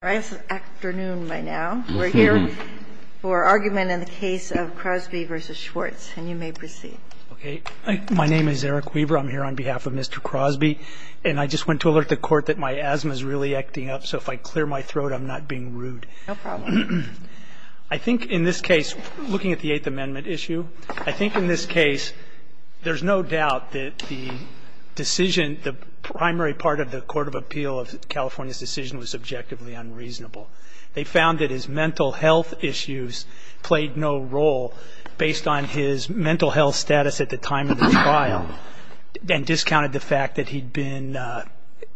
We're here for argument in the case of Crosby v. Schwartz, and you may proceed. My name is Eric Weaver. I'm here on behalf of Mr. Crosby. And I just want to alert the Court that my asthma is really acting up, so if I clear my throat, I'm not being rude. No problem. I think in this case, looking at the Eighth Amendment issue, I think in this case there's no doubt that the decision, the primary part of the Court of Appeal of California's decision was subjectively unreasonable. They found that his mental health issues played no role based on his mental health status at the time of the trial and discounted the fact that he'd been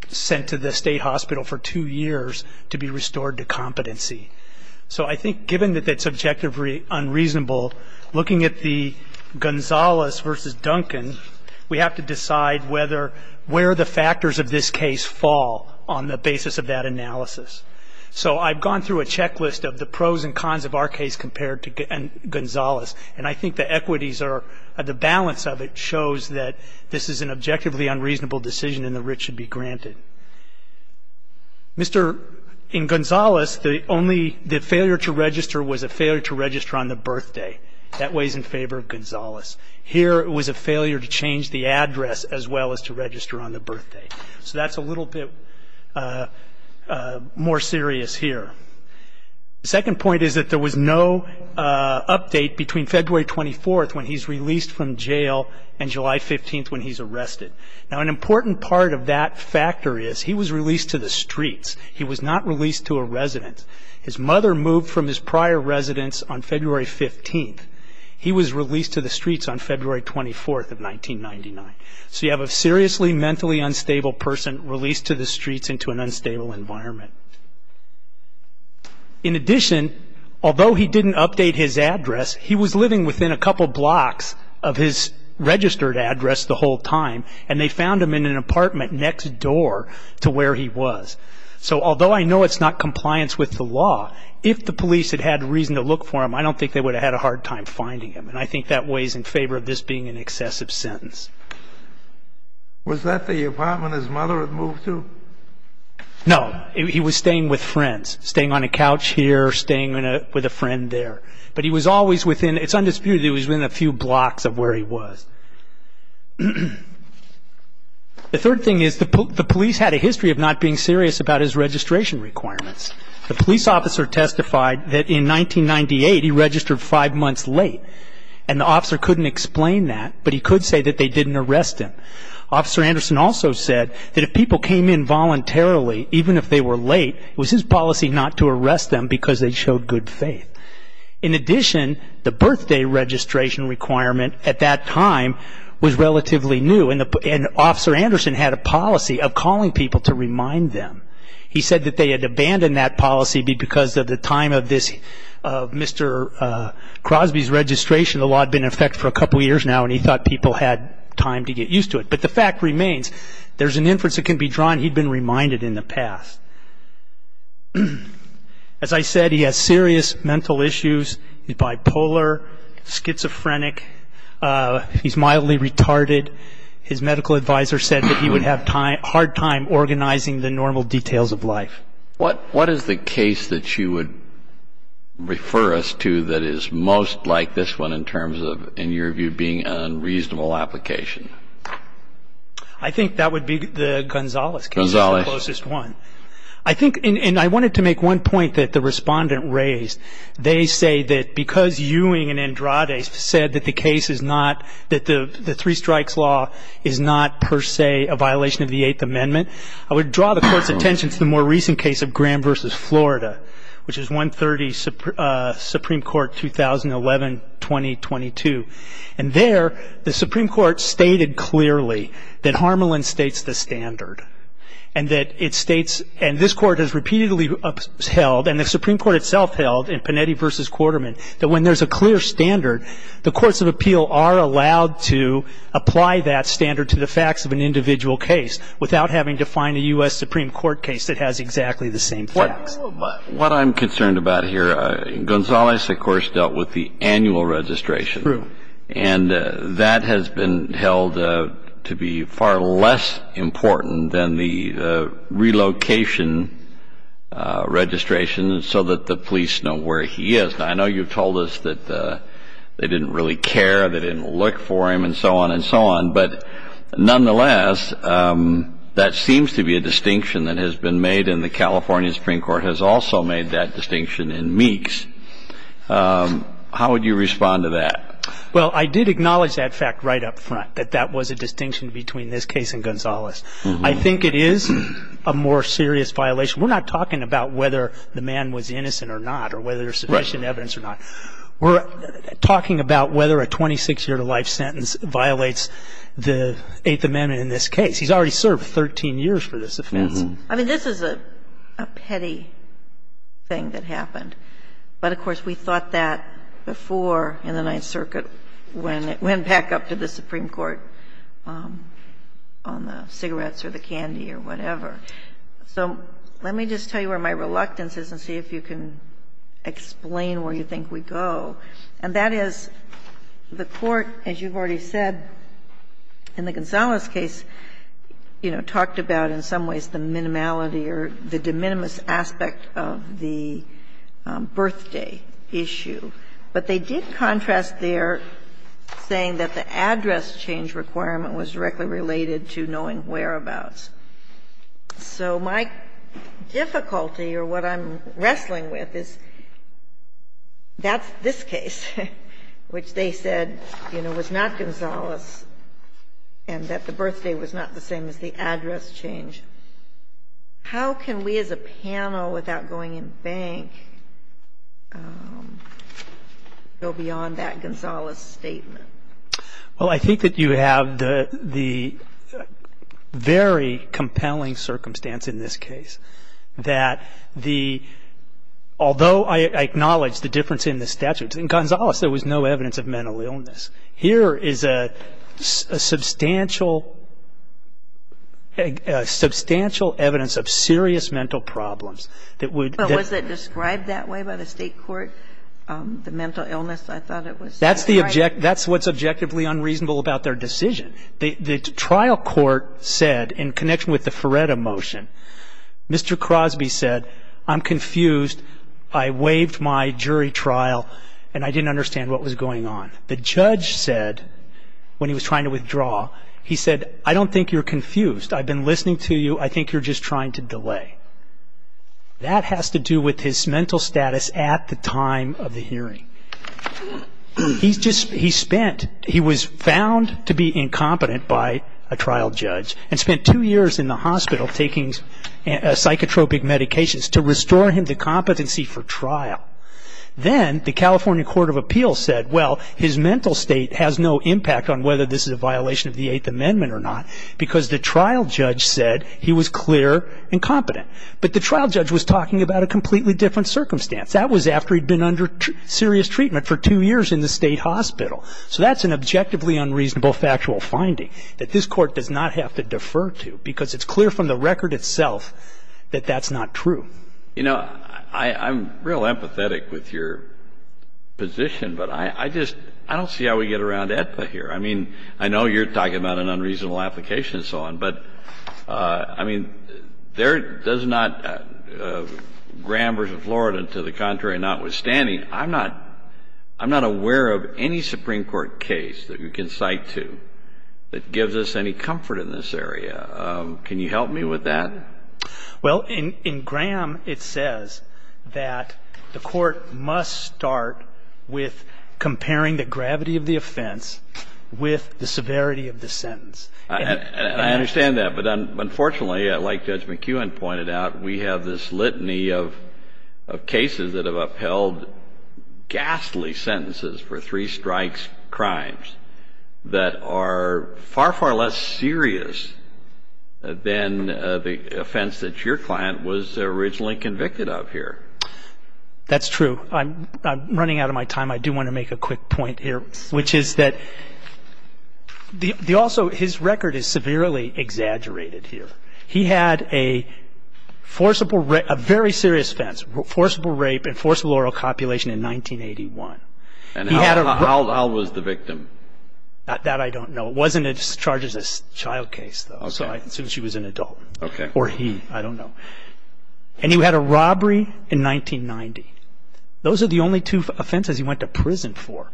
sent to the state hospital for two years to be restored to competency. So I think given that that's subjectively unreasonable, looking at the Gonzalez v. Duncan, we have to decide where the factors of this case fall on the basis of that analysis. So I've gone through a checklist of the pros and cons of our case compared to Gonzalez, and I think the equities or the balance of it shows that this is an objectively unreasonable decision, and the writ should be granted. In Gonzalez, the failure to register was a failure to register on the birthday. That weighs in favor of Gonzalez. Here it was a failure to change the address as well as to register on the birthday. So that's a little bit more serious here. The second point is that there was no update between February 24th when he's released from jail and July 15th when he's arrested. Now, an important part of that factor is he was released to the streets. He was not released to a residence. His mother moved from his prior residence on February 15th. He was released to the streets on February 24th of 1999. So you have a seriously mentally unstable person released to the streets into an unstable environment. In addition, although he didn't update his address, he was living within a couple blocks of his registered address the whole time, and they found him in an apartment next door to where he was. So although I know it's not compliance with the law, if the police had had reason to look for him, I don't think they would have had a hard time finding him, and I think that weighs in favor of this being an excessive sentence. Was that the apartment his mother had moved to? No. He was staying with friends, staying on a couch here, staying with a friend there. But he was always within, it's undisputed, he was within a few blocks of where he was. The third thing is the police had a history of not being serious about his registration requirements. The police officer testified that in 1998 he registered five months late, and the officer couldn't explain that, but he could say that they didn't arrest him. Officer Anderson also said that if people came in voluntarily, even if they were late, it was his policy not to arrest them because they showed good faith. In addition, the birthday registration requirement at that time was relatively new, and Officer Anderson had a policy of calling people to remind them. He said that they had abandoned that policy because of the time of Mr. Crosby's registration. The law had been in effect for a couple of years now, and he thought people had time to get used to it. But the fact remains, there's an inference that can be drawn, he'd been reminded in the past. As I said, he has serious mental issues. He's bipolar, schizophrenic, he's mildly retarded. His medical advisor said that he would have a hard time organizing the normal details of life. What is the case that you would refer us to that is most like this one in terms of, in your view, being an unreasonable application? I think that would be the Gonzales case is the closest one. And I wanted to make one point that the respondent raised. They say that because Ewing and Andrade said that the case is not, that the three strikes law is not per se a violation of the Eighth Amendment, I would draw the Court's attention to the more recent case of Graham v. Florida, which is 130 Supreme Court, 2011-2022. And there, the Supreme Court stated clearly that Harmelin states the standard, and that it states, and this Court has repeatedly held, and the Supreme Court itself held in Panetti v. Quarterman, that when there's a clear standard, the courts of appeal are allowed to apply that standard to the facts of an individual case without having to find a U.S. Supreme Court case that has exactly the same facts. What I'm concerned about here, Gonzales, of course, dealt with the annual registration. True. And that has been held to be far less important than the relocation registration so that the police know where he is. Now, I know you've told us that they didn't really care, they didn't look for him, and so on and so on. But nonetheless, that seems to be a distinction that has been made, and the California Supreme Court has also made that distinction in Meeks. How would you respond to that? Well, I did acknowledge that fact right up front, that that was a distinction between this case and Gonzales. I think it is a more serious violation. We're not talking about whether the man was innocent or not or whether there's sufficient evidence or not. We're talking about whether a 26-year-to-life sentence violates the Eighth Amendment in this case. He's already served 13 years for this offense. I mean, this is a petty thing that happened, but, of course, we thought that before in the Ninth Circuit when it went back up to the Supreme Court on the cigarettes or the candy or whatever. So let me just tell you where my reluctance is and see if you can explain where you think we go, and that is the Court, as you've already said, in the Gonzales case, you know, talked about in some ways the minimality or the de minimis aspect of the birthday issue, but they did contrast there, saying that the address change requirement was directly related to knowing whereabouts. So my difficulty or what I'm wrestling with is that's this case, which they said, you know, was not Gonzales and that the birthday was not the same as the address change. How can we as a panel, without going in bank, go beyond that Gonzales statement? Well, I think that you have the very compelling circumstance in this case that the – although I acknowledge the difference in the statutes, in Gonzales there was no evidence of mental illness. Here is a substantial evidence of serious mental problems that would – But was it described that way by the State Court, the mental illness? I thought it was – That's what's objectively unreasonable about their decision. The trial court said, in connection with the Ferretta motion, Mr. Crosby said, I'm confused, I waived my jury trial, and I didn't understand what was going on. The judge said, when he was trying to withdraw, he said, I don't think you're confused. I've been listening to you. I think you're just trying to delay. That has to do with his mental status at the time of the hearing. He spent – he was found to be incompetent by a trial judge and spent two years in the hospital taking psychotropic medications to restore him to competency for trial. Then the California Court of Appeals said, well, his mental state has no impact on whether this is a violation of the Eighth Amendment or not because the trial judge said he was clear and competent. But the trial judge was talking about a completely different circumstance. That was after he'd been under serious treatment for two years in the state hospital. So that's an objectively unreasonable factual finding that this court does not have to defer to because it's clear from the record itself that that's not true. You know, I'm real empathetic with your position, but I just – I don't see how we get around AEDPA here. I mean, I know you're talking about an unreasonable application and so on, but, I mean, there does not – Graham v. Florida, to the contrary, notwithstanding, I'm not – I'm not aware of any Supreme Court case that you can cite to that gives us any comfort in this area. Can you help me with that? Well, in Graham, it says that the court must start with comparing the gravity of the offense with the severity of the sentence. I understand that, but unfortunately, like Judge McKeown pointed out, we have this litany of cases that have upheld ghastly sentences for three strikes crimes that are far, far less serious than the offense that your client was originally convicted of here. That's true. I'm running out of my time. I do want to make a quick point here, which is that the – also, his record is severely exaggerated here. He had a forcible – a very serious offense, forcible rape and forcible oral copulation in 1981. And how was the victim? That I don't know. It wasn't as charged as a child case, though. Okay. So I assume she was an adult. Okay. Or he. I don't know. And he had a robbery in 1990. Those are the only two offenses he went to prison for.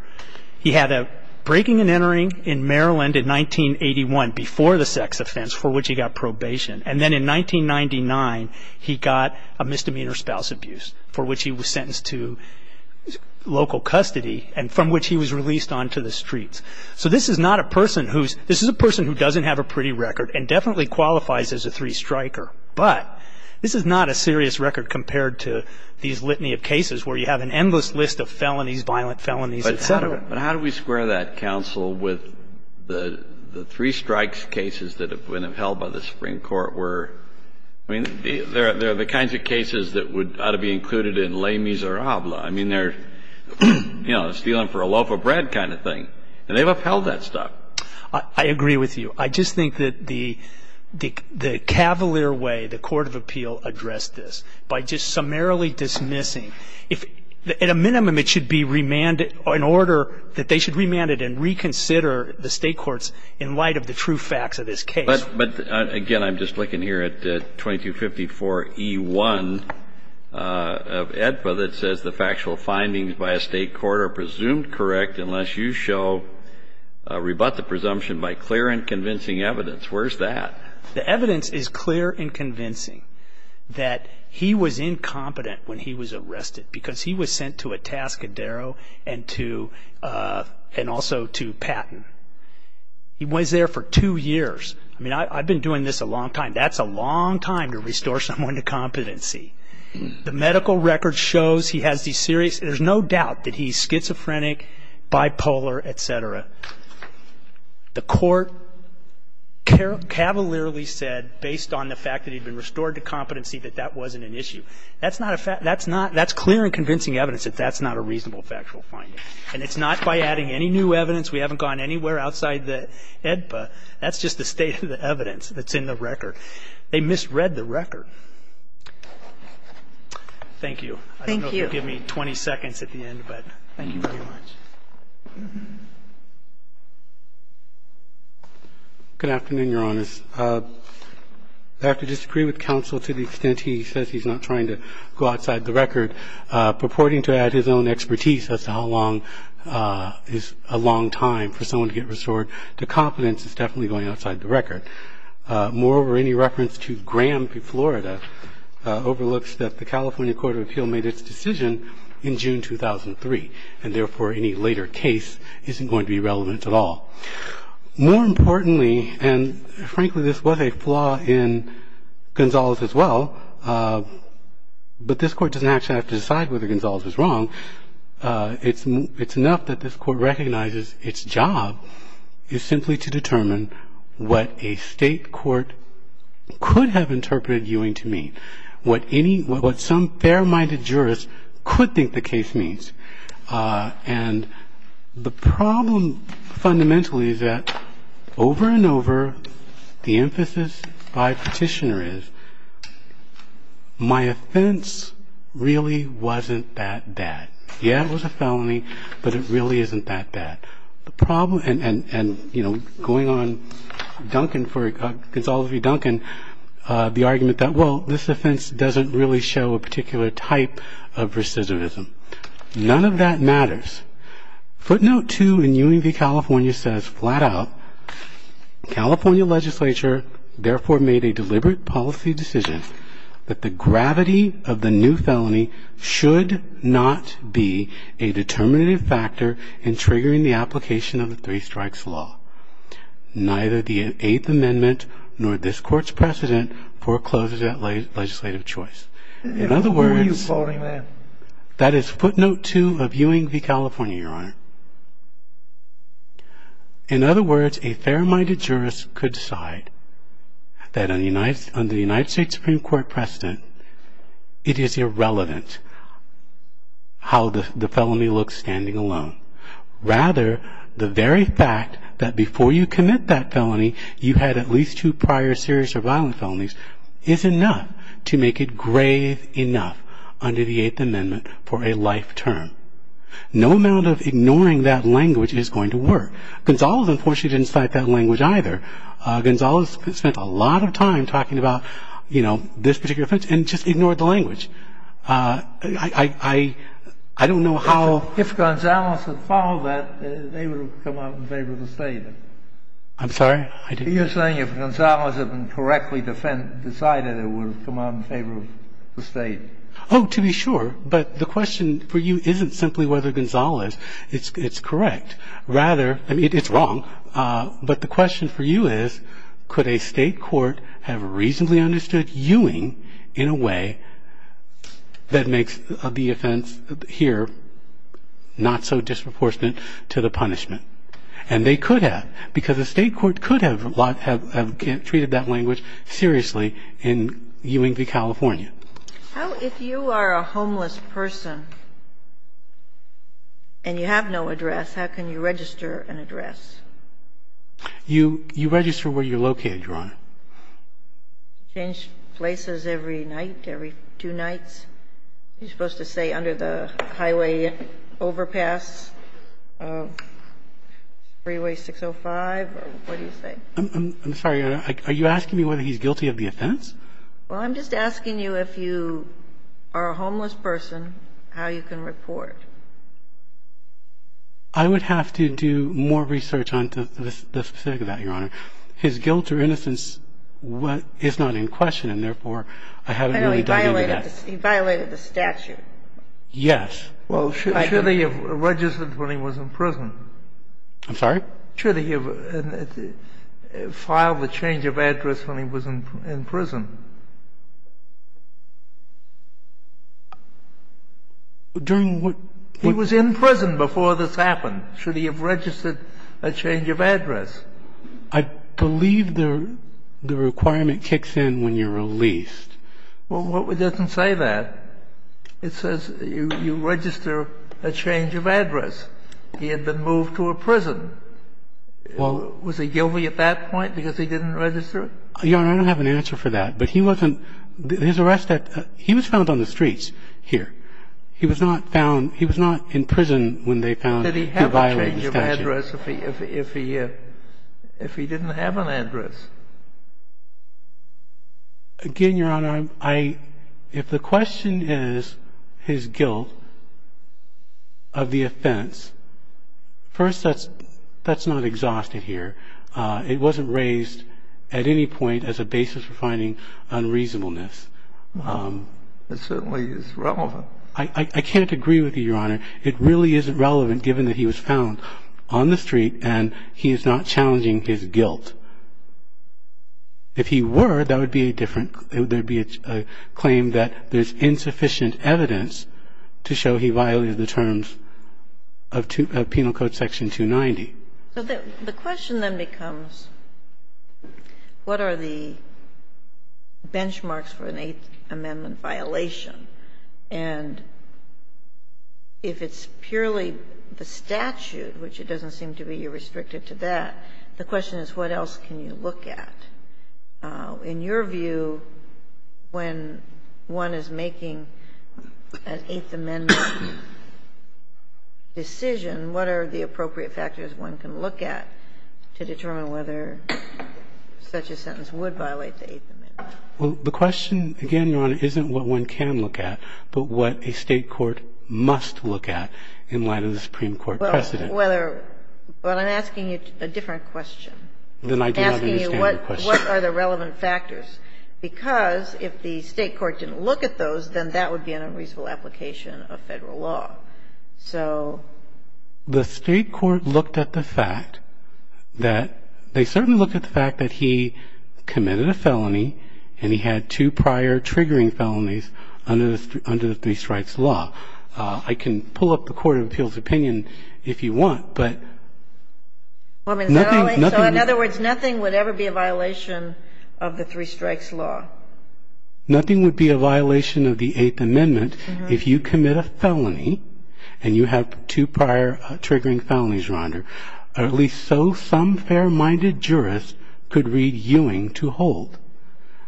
He had a breaking and entering in Maryland in 1981 before the sex offense, for which he got probation. And then in 1999, he got a misdemeanor spouse abuse, for which he was sentenced to local custody, and from which he was released onto the streets. So this is not a person who's – this is a person who doesn't have a pretty record and definitely qualifies as a three-striker. But this is not a serious record compared to these litany of cases where you have an endless list of felonies, violent felonies, et cetera. But how do we square that, counsel, with the three-strikes cases that have been upheld by the Supreme Court, where – I mean, they're the kinds of cases that would – ought to be included in Les Miserables. I mean, they're, you know, stealing for a loaf of bread kind of thing. And they've upheld that stuff. I agree with you. I just think that the cavalier way the court of appeal addressed this, by just summarily dismissing – at a minimum, it should be remanded – in order that they should remand it and reconsider the state courts in light of the true facts of this case. But, again, I'm just looking here at 2254E1 of AEDPA that says, The factual findings by a state court are presumed correct unless you show – rebut the presumption by clear and convincing evidence. Where's that? The evidence is clear and convincing that he was incompetent when he was arrested because he was sent to Atascadero and to – and also to Patton. He was there for two years. I mean, I've been doing this a long time. That's a long time to restore someone to competency. The medical record shows he has these serious – there's no doubt that he's schizophrenic, bipolar, et cetera. The court cavalierly said, based on the fact that he'd been restored to competency, that that wasn't an issue. That's not a – that's not – that's clear and convincing evidence that that's not a reasonable factual finding. And it's not by adding any new evidence. We haven't gone anywhere outside the AEDPA. That's just the state of the evidence that's in the record. They misread the record. Thank you. I don't know if you'll give me 20 seconds at the end, but thank you very much. Good afternoon, Your Honors. I have to disagree with counsel to the extent he says he's not trying to go outside the record. Purporting to add his own expertise as to how long is a long time for someone to get restored to competence is definitely going outside the record. Moreover, any reference to Graham v. Florida overlooks that the California Court of Appeal made its decision in June 2003, and therefore any later case isn't going to be relevant at all. More importantly, and frankly this was a flaw in Gonzales as well, but this Court doesn't actually have to decide whether Gonzales was wrong. It's enough that this Court recognizes its job is simply to determine what a state court could have interpreted Ewing to mean, what some fair-minded jurist could think the case means. And the problem fundamentally is that over and over, the emphasis by Petitioner is my defense really wasn't that bad. Yeah, it was a felony, but it really isn't that bad. The problem, and, you know, going on Duncan for Gonzales v. Duncan, the argument that well, this offense doesn't really show a particular type of recidivism. None of that matters. Footnote 2 in Ewing v. California says flat out, California legislature therefore made a deliberate policy decision that the gravity of the new felony should not be a determinative factor in triggering the application of the Three Strikes Law. Neither the Eighth Amendment nor this Court's precedent forecloses that legislative choice. Who are you quoting there? That is footnote 2 of Ewing v. California, Your Honor. In other words, a fair-minded jurist could decide that under the United States Supreme Court precedent, it is irrelevant how the felony looks standing alone. Rather, the very fact that before you commit that felony, you had at least two prior serious or violent felonies is enough to make it grave enough under the Eighth Amendment for a life term. No amount of ignoring that language is going to work. Gonzales, unfortunately, didn't cite that language either. Gonzales spent a lot of time talking about, you know, this particular offense and just ignored the language. I don't know how — If Gonzales had followed that, they would have come out in favor of the State. I'm sorry? You're saying if Gonzales had been correctly decided, it would have come out in favor of the State. Oh, to be sure, but the question for you isn't simply whether Gonzales is correct. Rather — I mean, it's wrong, but the question for you is, could a state court have reasonably understood Ewing in a way that makes the offense here not so disproportionate to the punishment? And they could have, because a state court could have treated that language seriously in Ewing v. California. How, if you are a homeless person and you have no address, how can you register an address? You register where you're located, Your Honor. Change places every night, every two nights? You're supposed to say under the highway overpass, freeway 605, or what do you say? I'm sorry. Well, I'm just asking you if you are a homeless person, how you can report. I would have to do more research on the specifics of that, Your Honor. His guilt or innocence is not in question, and therefore, I haven't really dug into that. He violated the statute. Yes. Well, should he have registered when he was in prison? I'm sorry? Should he have filed a change of address when he was in prison? During what? He was in prison before this happened. Should he have registered a change of address? I believe the requirement kicks in when you're released. Well, it doesn't say that. It says you register a change of address. He had been moved to a prison. Was he guilty at that point because he didn't register? Your Honor, I don't have an answer for that. But he wasn't his arrest at he was found on the streets here. He was not found he was not in prison when they found he violated the statute. Did he have a change of address if he didn't have an address? Again, Your Honor, if the question is his guilt of the offense, first, that's not exhausted here. It wasn't raised at any point as a basis for finding unreasonableness. It certainly is relevant. I can't agree with you, Your Honor. It really isn't relevant given that he was found on the street, and he is not challenging his guilt. If he were, that would be a different – there would be a claim that there's insufficient evidence to show he violated the terms of Penal Code Section 290. So the question then becomes, what are the benchmarks for an Eighth Amendment violation? And if it's purely the statute, which it doesn't seem to be, you're restricted to that, the question is, what else can you look at? In your view, when one is making an Eighth Amendment decision, what are the appropriate factors one can look at to determine whether such a sentence would violate the Eighth Amendment? Well, the question, again, Your Honor, isn't what one can look at, but what a state court must look at in light of the Supreme Court precedent. But I'm asking you a different question. Then I do not understand your question. I'm asking you what are the relevant factors. Because if the state court didn't look at those, then that would be an unreasonable application of Federal law. So the state court looked at the fact that – they certainly looked at the fact that he committed a felony, and he had two prior triggering felonies under the Three Strikes Law. I can pull up the Court of Appeals opinion if you want, but nothing – So in other words, nothing would ever be a violation of the Three Strikes Law? Nothing would be a violation of the Eighth Amendment if you commit a felony and you have two prior triggering felonies, Your Honor, or at least so some fair-minded jurist could read Ewing to hold.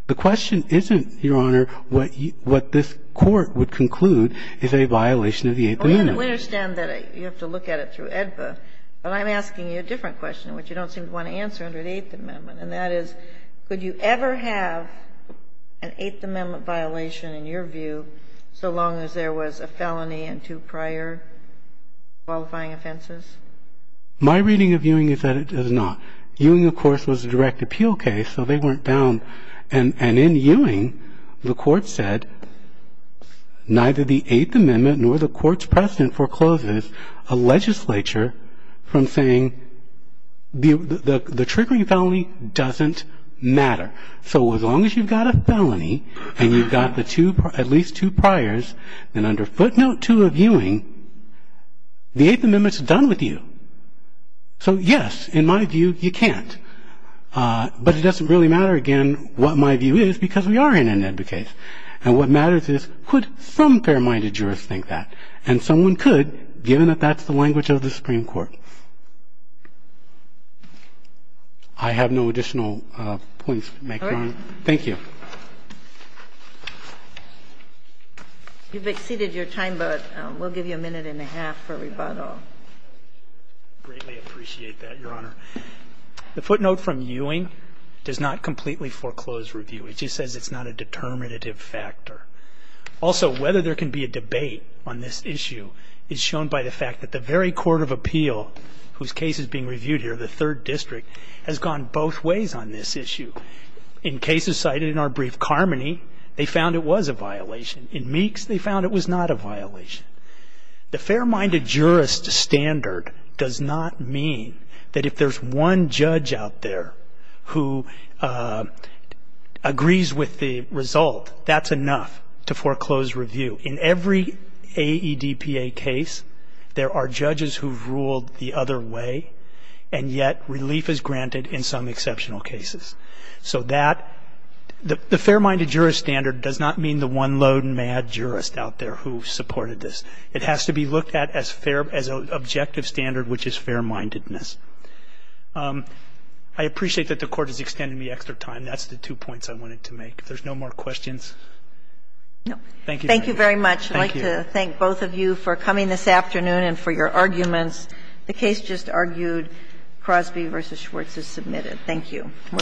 The question isn't, Your Honor, what this Court would conclude is a violation of the Eighth Amendment. We understand that you have to look at it through AEDPA, but I'm asking you a different question which you don't seem to want to answer under the Eighth Amendment. And that is, could you ever have an Eighth Amendment violation in your view so long as there was a felony and two prior qualifying offenses? My reading of Ewing is that it does not. Ewing, of course, was a direct appeal case, so they weren't down. And in Ewing, the Court said neither the Eighth Amendment nor the Court's precedent forecloses a legislature from saying the triggering felony doesn't matter. So as long as you've got a felony and you've got at least two priors, then under Footnote 2 of Ewing, the Eighth Amendment's done with you. So, yes, in my view, you can't. But it doesn't really matter, again, what my view is because we are in an AEDPA case. And what matters is, could some fair-minded jurist think that? And someone could, given that that's the language of the Supreme Court. I have no additional points to make, Your Honor. Thank you. You've exceeded your time, but we'll give you a minute and a half for rebuttal. I greatly appreciate that, Your Honor. The footnote from Ewing does not completely foreclose review. It just says it's not a determinative factor. Also, whether there can be a debate on this issue is shown by the fact that the very court of appeal whose case is being reviewed here, the Third District, has gone both ways on this issue. In cases cited in our brief, Carmody, they found it was a violation. In Meeks, they found it was not a violation. The fair-minded jurist standard does not mean that if there's one judge out there who agrees with the result, that's enough to foreclose review. In every AEDPA case, there are judges who've ruled the other way, and yet relief is granted in some exceptional cases. So that the fair-minded jurist standard does not mean the one low and mad jurist out there who supported this. It has to be looked at as fair, as an objective standard, which is fair-mindedness. I appreciate that the Court has extended me extra time. That's the two points I wanted to make. If there's no more questions. Thank you, Your Honor. Thank you very much. I'd like to thank both of you for coming this afternoon and for your arguments. The case just argued, Crosby v. Schwartz is submitted. Thank you. We're adjourned.